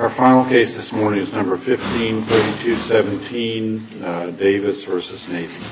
Our final case this morning is number 15, 3217, Davis v. Navy.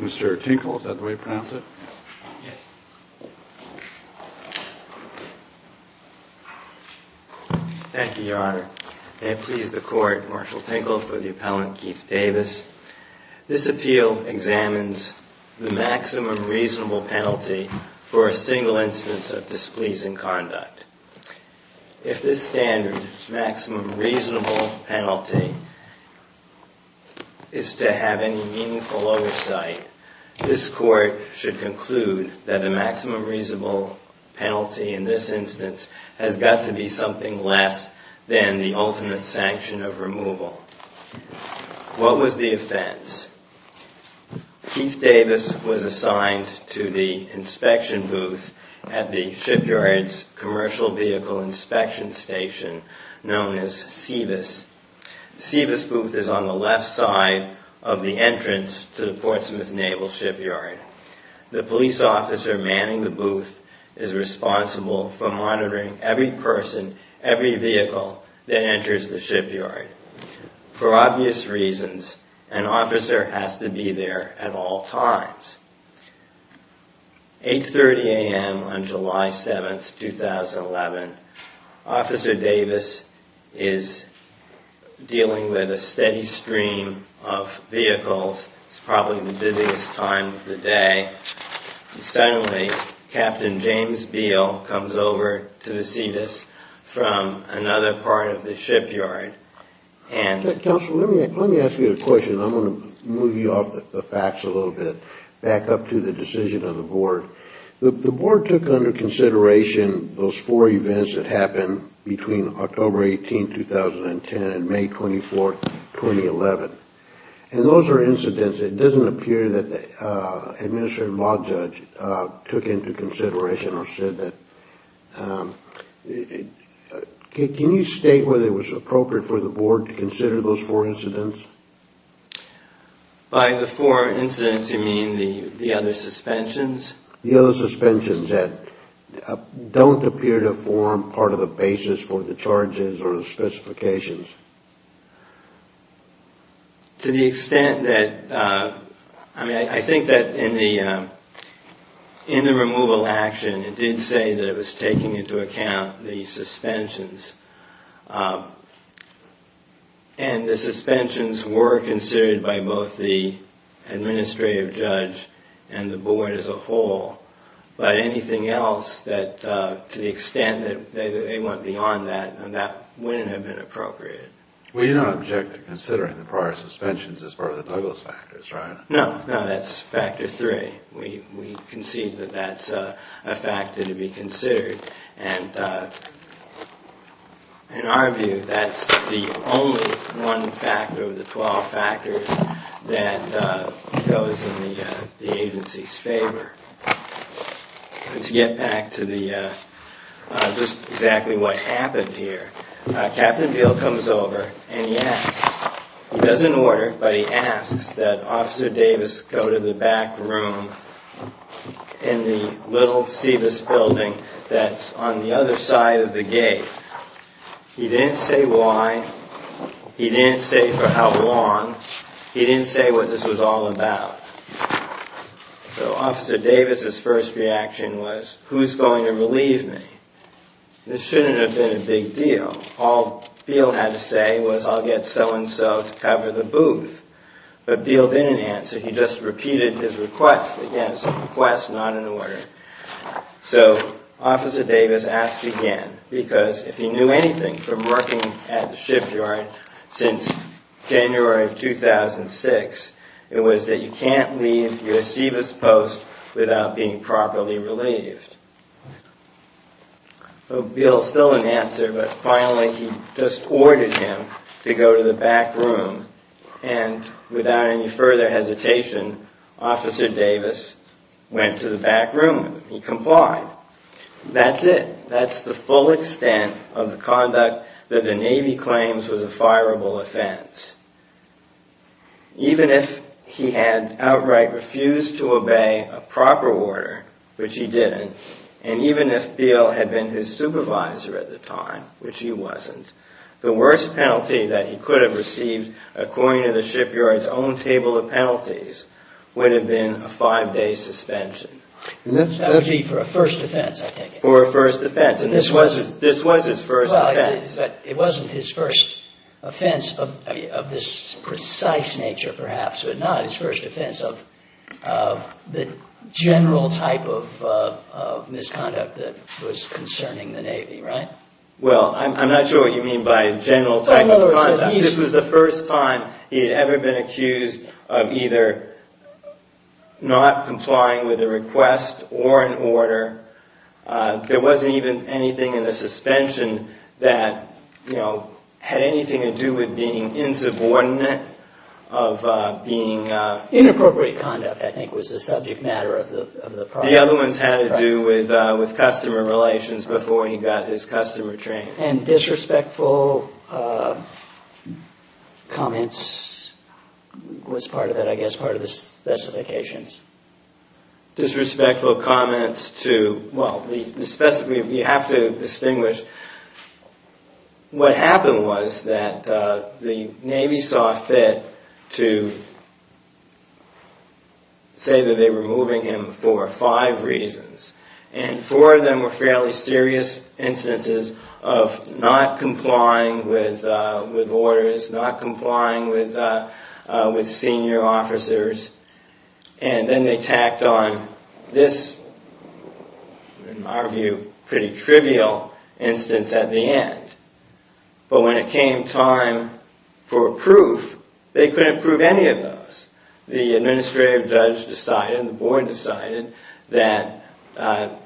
Mr. Tinkle, is that the way to pronounce it? Yes. Thank you, Your Honor. May it please the Court, Marshall Tinkle for the Appellant Keith Davis. This appeal examines the maximum reasonable penalty for a single instance of displeasing conduct. If this standard, maximum reasonable penalty, is to have any meaningful oversight, this Court should conclude that the maximum reasonable penalty in this instance has got to be something less than the ultimate sanction of removal. What was the offense? Keith Davis was assigned to the inspection booth at the shipyard's commercial vehicle inspection station known as SEVIS. The SEVIS booth is on the left side of the entrance to the Portsmouth Naval Shipyard. The police officer manning the booth is responsible for monitoring every person, every vehicle that enters the shipyard. For obvious reasons, an officer has to be there at all times. 8.30 a.m. on July 7, 2011, Officer Davis is dealing with a steady stream of vehicles. It's probably the busiest time of the day. Suddenly, Captain James Beal comes over to the SEVIS from another part of the shipyard. Counsel, let me ask you a question. I'm going to move you off the facts a little bit, back up to the decision of the Board. The Board took under consideration those four events that happened between October 18, 2010 and May 24, 2011. Those are incidents. It doesn't appear that the Administrative Law Judge took into consideration or said that. Can you state whether it was appropriate for the Board to consider those four incidents? By the four incidents, you mean the other suspensions? The other suspensions that don't appear to I think that in the removal action, it did say that it was taking into account the suspensions. And the suspensions were considered by both the Administrative Judge and the Board as a whole. But anything else to the extent that they went beyond that, that wouldn't have been appropriate. Well, you don't object to considering the prior suspensions as part of the Douglas factors, right? No, no, that's factor three. We concede that that's a factor to be considered. And in our view, that's the only one factor of the twelve factors that goes in the agency's favor. To get back to just exactly what happened here, Captain Peale comes over and he asks, he doesn't order, but he asks that Officer Davis go to the back room in the little SEVIS building that's on the other side of the gate. He didn't say why. He didn't say for how long. He didn't say what this was all about. So Officer Davis's first reaction was, who's going to relieve me? This shouldn't have been a big deal. All Peale had to say was, I'll get so-and-so to cover the booth. But Peale didn't answer. He just repeated his request. Again, it's a request, not an order. So Officer Davis asked again, because if he knew anything from working at the shipyard since January of 2006, it was that you can't leave your SEVIS post without being properly relieved. Peale still didn't answer, but finally he just ordered him to go to the back room. And without any further hesitation, Officer Davis went to the back room. He complied. That's it. That's the full extent of the conduct that the Navy claims was a fireable offense. Even if he had outright refused to obey a proper order, which he didn't, and even if Peale had been his supervisor at the time, which he wasn't, the worst penalty that he could have received according to the shipyard's own table of penalties would have been a five-day suspension. That would be for a first offense, I take it. For a first offense. And this was his first offense. It wasn't his first offense of this precise nature, perhaps, but not his first offense of the general type of misconduct that was concerning the Navy, right? Well, I'm not sure what you mean by general type of conduct. This was the first time he made a request or an order. There wasn't even anything in the suspension that had anything to do with being insubordinate of being... Inappropriate conduct, I think, was the subject matter of the project. The other ones had to do with customer relations before he got his customer trained. And disrespectful comments was part of it, I guess, part of the specifications. Disrespectful comments to... Well, we have to distinguish... What happened was that the Navy saw fit to say that they were moving him for five reasons. And four of them were fairly serious instances of not complying with orders, not complying with senior officers. And then they tacked on this, in our view, pretty trivial instance at the end. But when it came time for proof, they couldn't prove any of those. The administrative judge decided, the board decided, that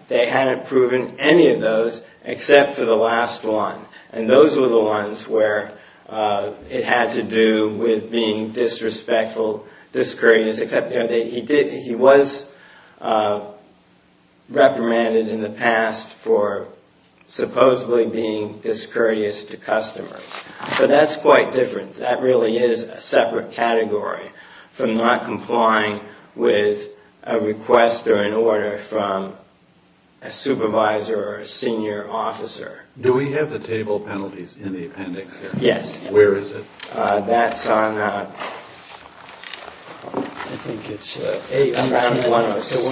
they hadn't proven any of those except for the last one. And those were the ones where it had to do with being disrespectful, discourteous, except he was reprimanded in the past for supposedly being discourteous to customers. But that's quite different. That really is a separate category from not complying with a request or an order from a supervisor or a senior officer. Do we have the table penalties in the appendix here? Yes. Where is it? That's on... I think it's 111 through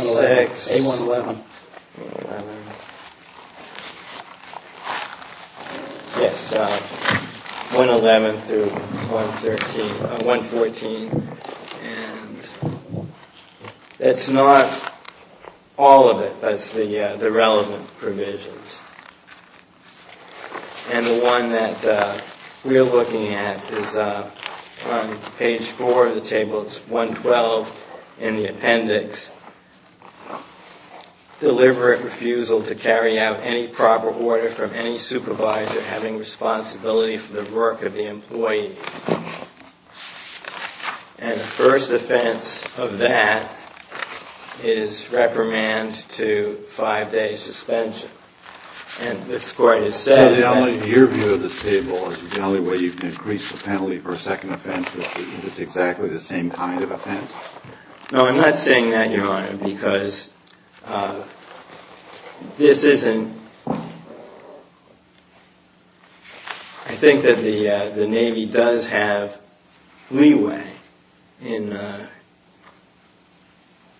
114. And that's not all of it. That's the relevant provisions. And the one that we're looking at is on page four of the table. It's 112 in the appendix. Deliberate refusal to carry out any proper order from any supervisor having responsibility for the work of the employee. And the first offense of that is reprimand to five-day suspension. And this Court has said that... So your view of this table is the only way you can increase the penalty for a second offense if it's exactly the same kind of offense? No, I'm not saying that, Your Honor, because this isn't... I think that the Navy does have leeway in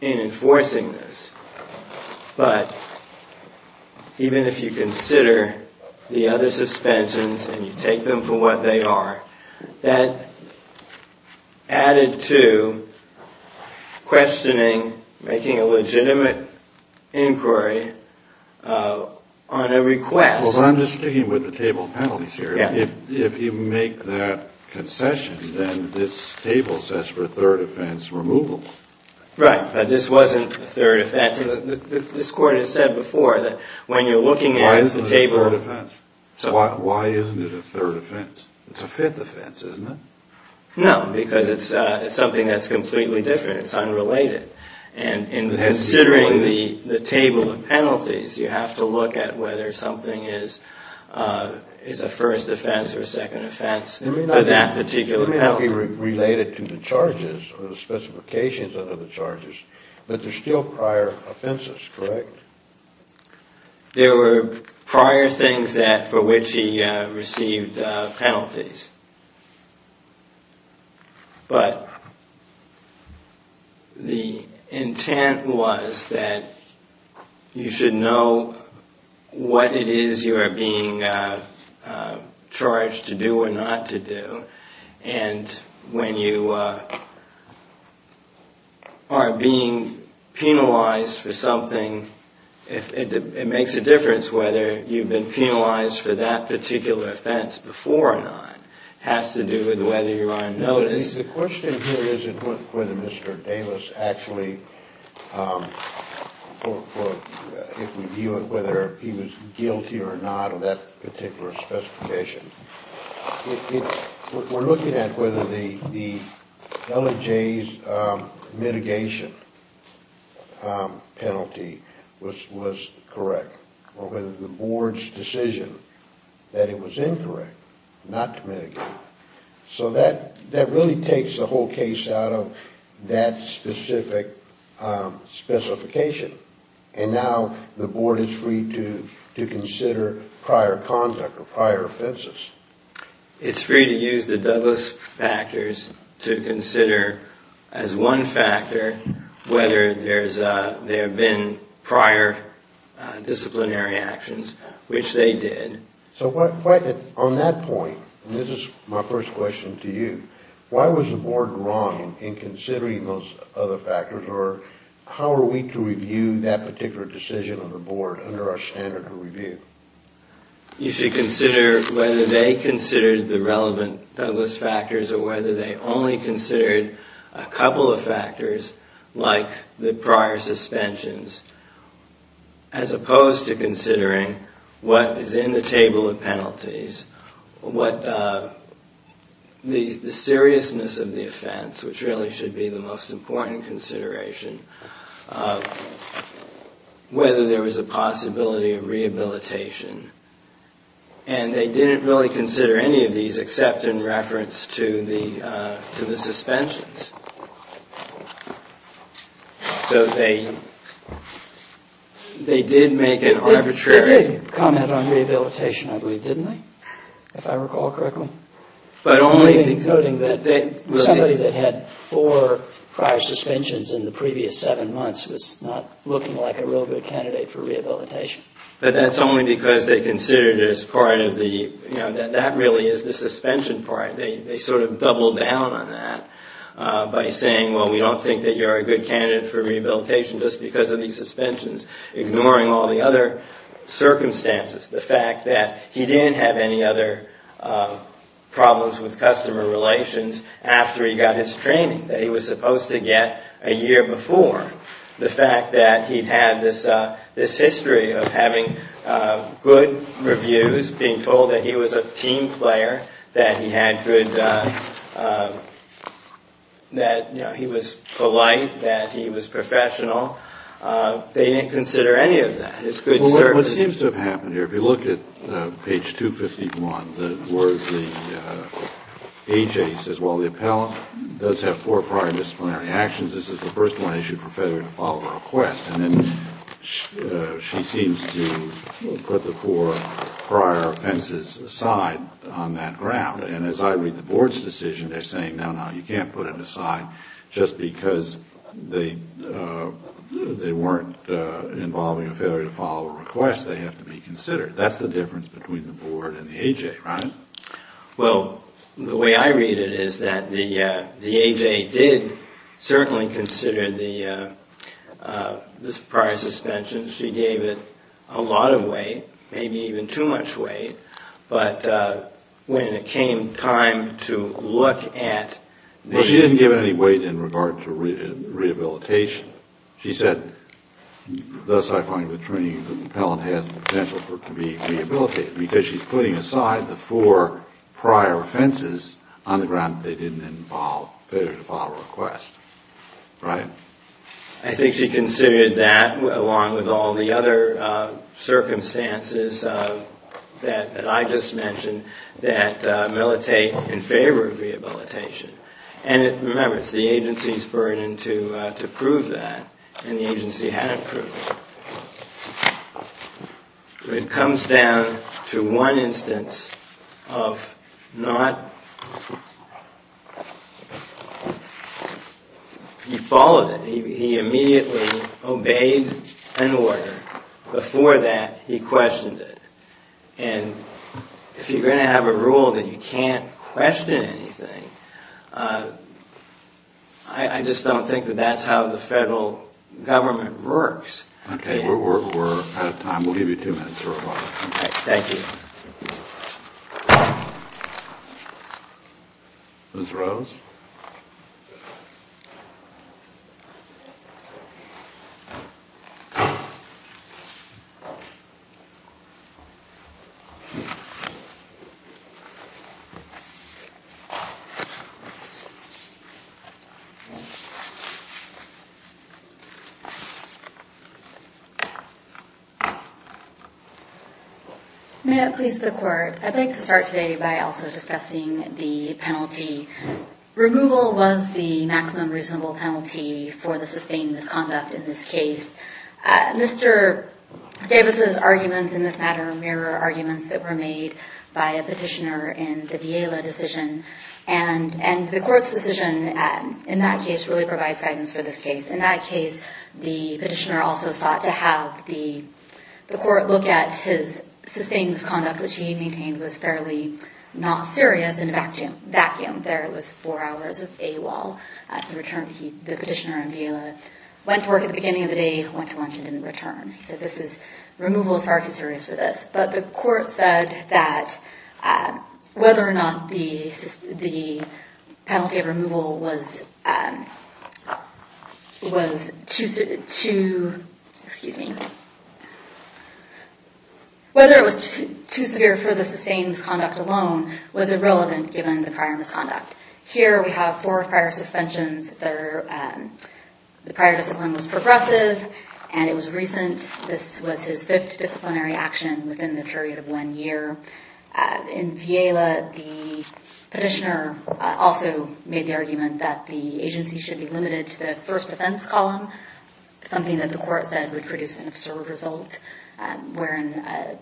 enforcing this. But even if you consider the other suspensions and you take them for what they are, that added to questioning, making a legitimate inquiry on a request... Well, I'm just sticking with the table penalties here. If you make that concession, then this table says for a third offense removal. Right, but this wasn't a third offense. This Court has said before that when you're looking at the table... Why isn't it a third offense? It's a fifth offense, isn't it? No, because it's something that's completely different. It's unrelated. And considering the table of penalties, you have to look at whether something is a first offense or a second offense for that particular penalty. It may not be related to the charges or the specifications under the charges, but there's still prior offenses, correct? There were prior things for which he received penalties. But the intent was that you should know what it is you are being charged to do or not to do. And when you are being penalized for something, it makes a difference whether you've been penalized for that particular offense before or not. It has to do with whether you are on notice. The question here isn't whether Mr. Davis actually, if we view it, whether he was guilty or not of that particular specification. We're looking at whether the LAJ's mitigation penalty was correct or whether the Board's decision that it was incorrect not to mitigate. So that really takes the whole case out of that specific specification. And now the Board is free to consider prior conduct or prior offenses. It's free to use the Douglas factors to consider as one factor whether there have been prior disciplinary actions, which they did. So on that point, and this is my first question to you, why was the Board wrong in considering those other factors? Or how are we to review that particular decision of the Board under our standard of review? You should consider whether they considered the relevant Douglas factors or whether they only considered a couple of factors like the prior suspensions. As opposed to considering what is in the table of penalties, the seriousness of the offense, which really should be the most important consideration, whether there was a possibility of rehabilitation. And they didn't really consider any of these except in reference to the suspensions. So they did make an arbitrary... They did comment on rehabilitation, I believe, didn't they? If I recall correctly. But only because... Somebody that had four prior suspensions in the previous seven months was not looking like a real good candidate for rehabilitation. But that's only because they considered it as part of the, you know, that really is the suspension part. They sort of doubled down on that by saying, well, we don't think that you're a good candidate for rehabilitation just because of these suspensions. Ignoring all the other circumstances. The fact that he didn't have any other problems with customer relations after he got his training that he was supposed to get a year before. The fact that he had this history of having good reviews, being told that he was a team player, that he had good... That, you know, he was polite, that he was professional. They didn't consider any of that as good service. Well, what seems to have happened here, if you look at page 251, the word, the A.J. says, Well, the appellant does have four prior disciplinary actions. This is the first one issued for failure to follow a request. And then she seems to put the four prior offenses aside on that ground. And as I read the board's decision, they're saying, no, no, you can't put it aside just because they weren't involving a failure to follow a request. They have to be considered. That's the difference between the board and the A.J., right? Well, the way I read it is that the A.J. did certainly consider the prior suspension. She gave it a lot of weight, maybe even too much weight. But when it came time to look at the... Well, she didn't give it any weight in regard to rehabilitation. She said, Thus, I find the training that the appellant has the potential for it to be rehabilitated. Because she's putting aside the four prior offenses on the ground that they didn't involve failure to follow a request. Right? I think she considered that along with all the other circumstances that I just mentioned that militate in favor of rehabilitation. And remember, it's the agency's burden to prove that. And the agency hadn't proved it. It comes down to one instance of not... He followed it. He immediately obeyed an order. Before that, he questioned it. And if you're going to have a rule that you can't question anything, I just don't think that that's how the federal government works. Okay. We're out of time. We'll give you two minutes. Okay. Thank you. Ms. Rose? May it please the court. I'd like to start today by also discussing the penalty. Removal was the maximum reasonable penalty for the sustained misconduct in this case. Mr. Davis's arguments in this matter mirror arguments that were made by a petitioner in the Villela decision. And the court's decision in that case really provides guidance for this case. In that case, the petitioner also sought to have the court look at his sustained misconduct, which he maintained was fairly not serious, and vacuumed there. It was four hours of AWOL. In return, the petitioner in Villela went to work at the beginning of the day, went to lunch, and didn't return. So this is removal. It's far too serious for this. But the court said that whether or not the penalty of removal was too severe for the sustained misconduct alone was irrelevant given the prior misconduct. Here we have four prior suspensions. The prior discipline was progressive, and it was recent. This was his fifth disciplinary action within the period of one year. In Villela, the petitioner also made the argument that the agency should be limited to the first offense column, something that the court said would produce an absurd result, wherein an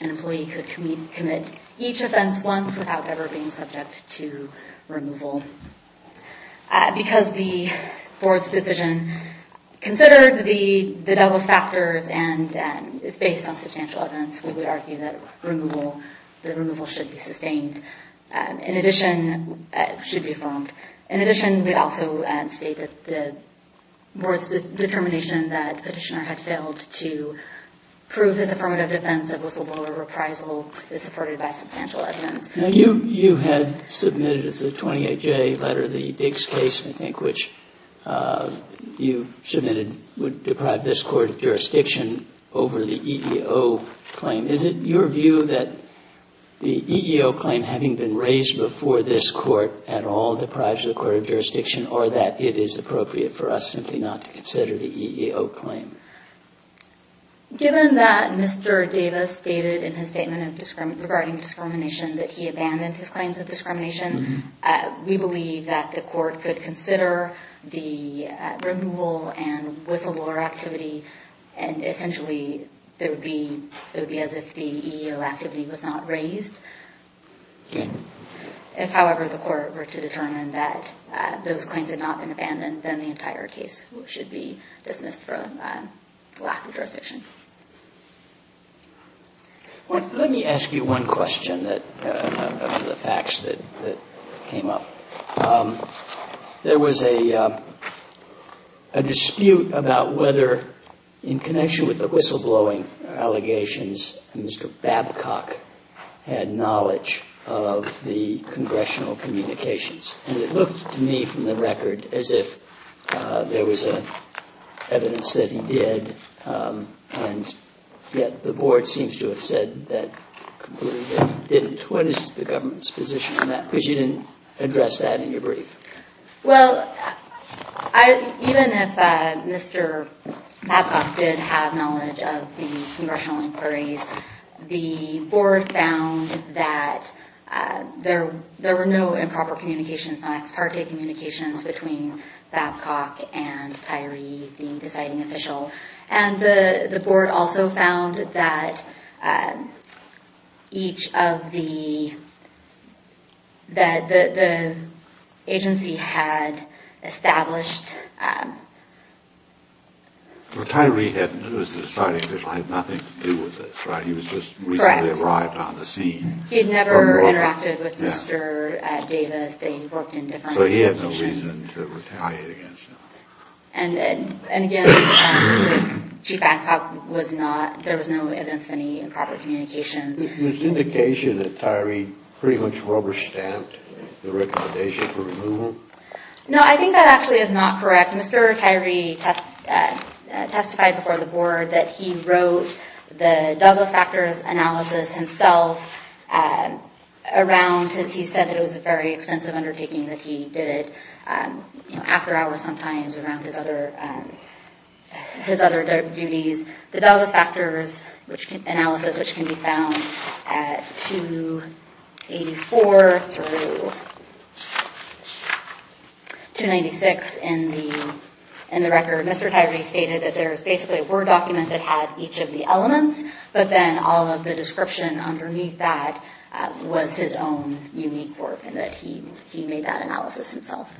employee could commit each offense once without ever being subject to removal. Because the board's decision considered the devil's factors and is based on substantial evidence, we would argue that the removal should be sustained. And we would argue that the court's decision to approve his affirmative defense of whistleblower reprisal is supported by substantial evidence. Now, you had submitted as a 28-J letter the Diggs case, I think, which you submitted would deprive this court of jurisdiction over the EEO claim. Is it your view that the EEO claim, having been raised before this court at all, deprives the court of jurisdiction, or that it is appropriate for us simply not to consider the EEO claim? Given that Mr. Davis stated in his statement regarding discrimination that he abandoned his claims of discrimination, we believe that the court could consider the removal and whistleblower activity, and essentially it would be as if the EEO activity was not raised. If, however, the court were to determine that those claims had not been abandoned, then the entire case should be dismissed for lack of jurisdiction. Let me ask you one question on the facts that came up. There was a dispute about whether, in connection with the whistleblowing allegations, Mr. Babcock had knowledge of the congressional communications. And it looked to me from the record as if there was evidence that he did, and yet the board seems to have said that completely that he didn't. What is the government's position on that? Because you didn't address that in your brief. Well, even if Mr. Babcock did have knowledge of the congressional inquiries, the board found that there were no improper communications, non-ex parte communications between Babcock and Tyree, the deciding official. And the board also found that each of the... that the agency had established... Well, Tyree was the deciding official, had nothing to do with this, right? He was just recently arrived on the scene. He had never interacted with Mr. Davis. They worked in different positions. So he had no reason to retaliate against him. And again, Chief Babcock was not... there was no evidence of any improper communications. Was the indication that Tyree pretty much rubber-stamped the recommendation for removal? No, I think that actually is not correct. Mr. Tyree testified before the board that he wrote the Douglas factors analysis himself around... He said that it was a very extensive undertaking, that he did it after hours sometimes around his other duties. The Douglas factors analysis, which can be found at 284 through 296 in the record. Mr. Tyree stated that there was basically a Word document that had each of the elements, but then all of the description underneath that was his own unique work and that he made that analysis himself.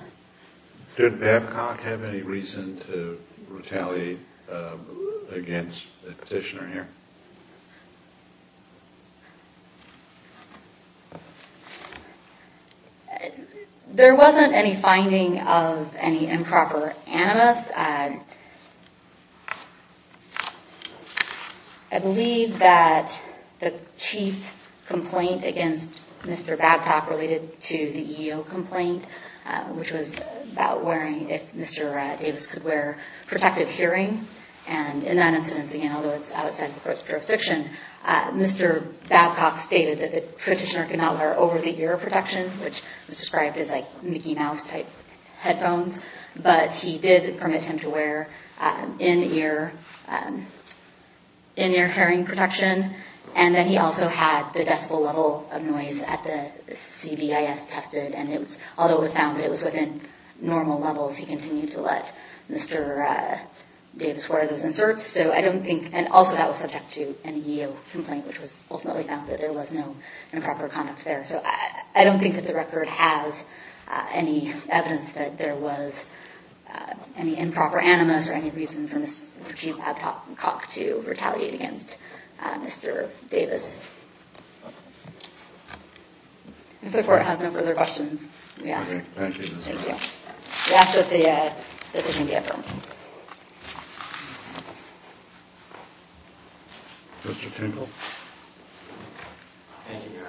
Did Babcock have any reason to retaliate against the petitioner here? There wasn't any finding of any improper animus. I believe that the chief complaint against Mr. Babcock related to the EEO complaint, which was about wearing... if Mr. Davis could wear protective hearing. And in that instance, again, although it's outside the court's jurisdiction, Mr. Babcock stated that the petitioner could not wear over-the-ear protection, which was described as like Mickey Mouse type headphones. But he did permit him to wear in-ear hearing protection. And then he also had the decibel level of noise at the CBIS tested. And although it was found that it was within normal levels, he continued to let Mr. Davis wear those inserts. So I don't think... and also that was subject to an EEO complaint, which was ultimately found that there was no improper conduct there. So I don't think that the record has any evidence that there was any improper animus or any reason for Chief Babcock to retaliate against Mr. Davis. If the court has no further questions, we ask that the decision be affirmed. Mr. Kindle? Thank you, Your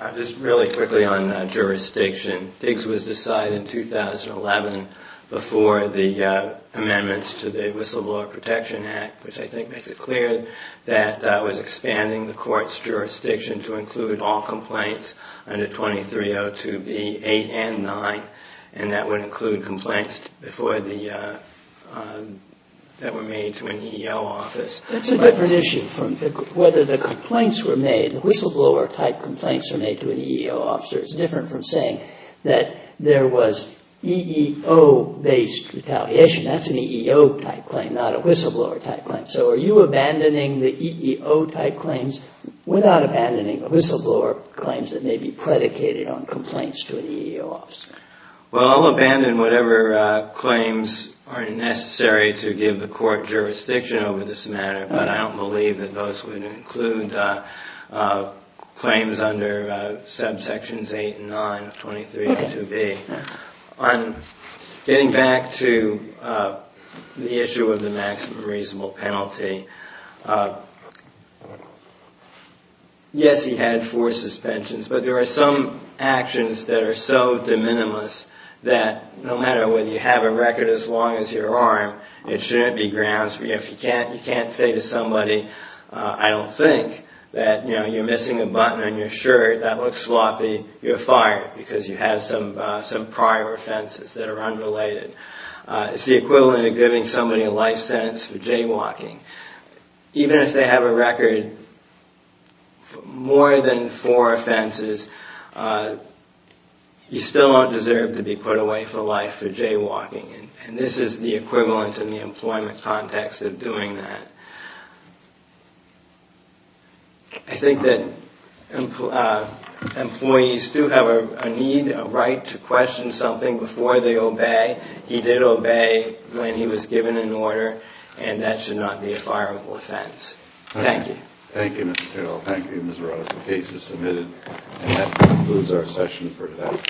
Honor. Just really quickly on jurisdiction. Diggs was decided in 2011 before the amendments to the Whistleblower Protection Act, which I think makes it clear that was expanding the court's jurisdiction to include all complaints under 2302B8 and 9. And that would include complaints before the... that were made to an EEO office. That's a different issue from whether the complaints were made, the whistleblower-type complaints were made to an EEO officer. It's different from saying that there was EEO-based retaliation. That's an EEO-type claim, not a whistleblower-type claim. So are you abandoning the EEO-type claims without abandoning the whistleblower claims that may be predicated on complaints to an EEO officer? Well, I'll abandon whatever claims are necessary to give the court jurisdiction over this matter, but I don't believe that those would include claims under subsections 8 and 9 of 2302B. On getting back to the issue of the maximum reasonable penalty, yes, he had four suspensions, but there are some actions that are so de minimis that no matter whether you have a record as long as your arm, it shouldn't be grounds for you. If you can't say to somebody, I don't think, that you're missing a button on your shirt, that looks sloppy, you're fired because you have some prior offenses that are unrelated. It's the equivalent of giving somebody a life sentence for jaywalking. Even if they have a record for more than four offenses, you still don't deserve to be put away for life for jaywalking, and this is the equivalent in the employment context of doing that. I think that employees do have a need, a right, to question something before they obey. He did obey when he was given an order, and that should not be a fireable offense. Thank you. Thank you, Mr. Terrell. Thank you, Ms. Rota, for the cases submitted. And that concludes our session for today.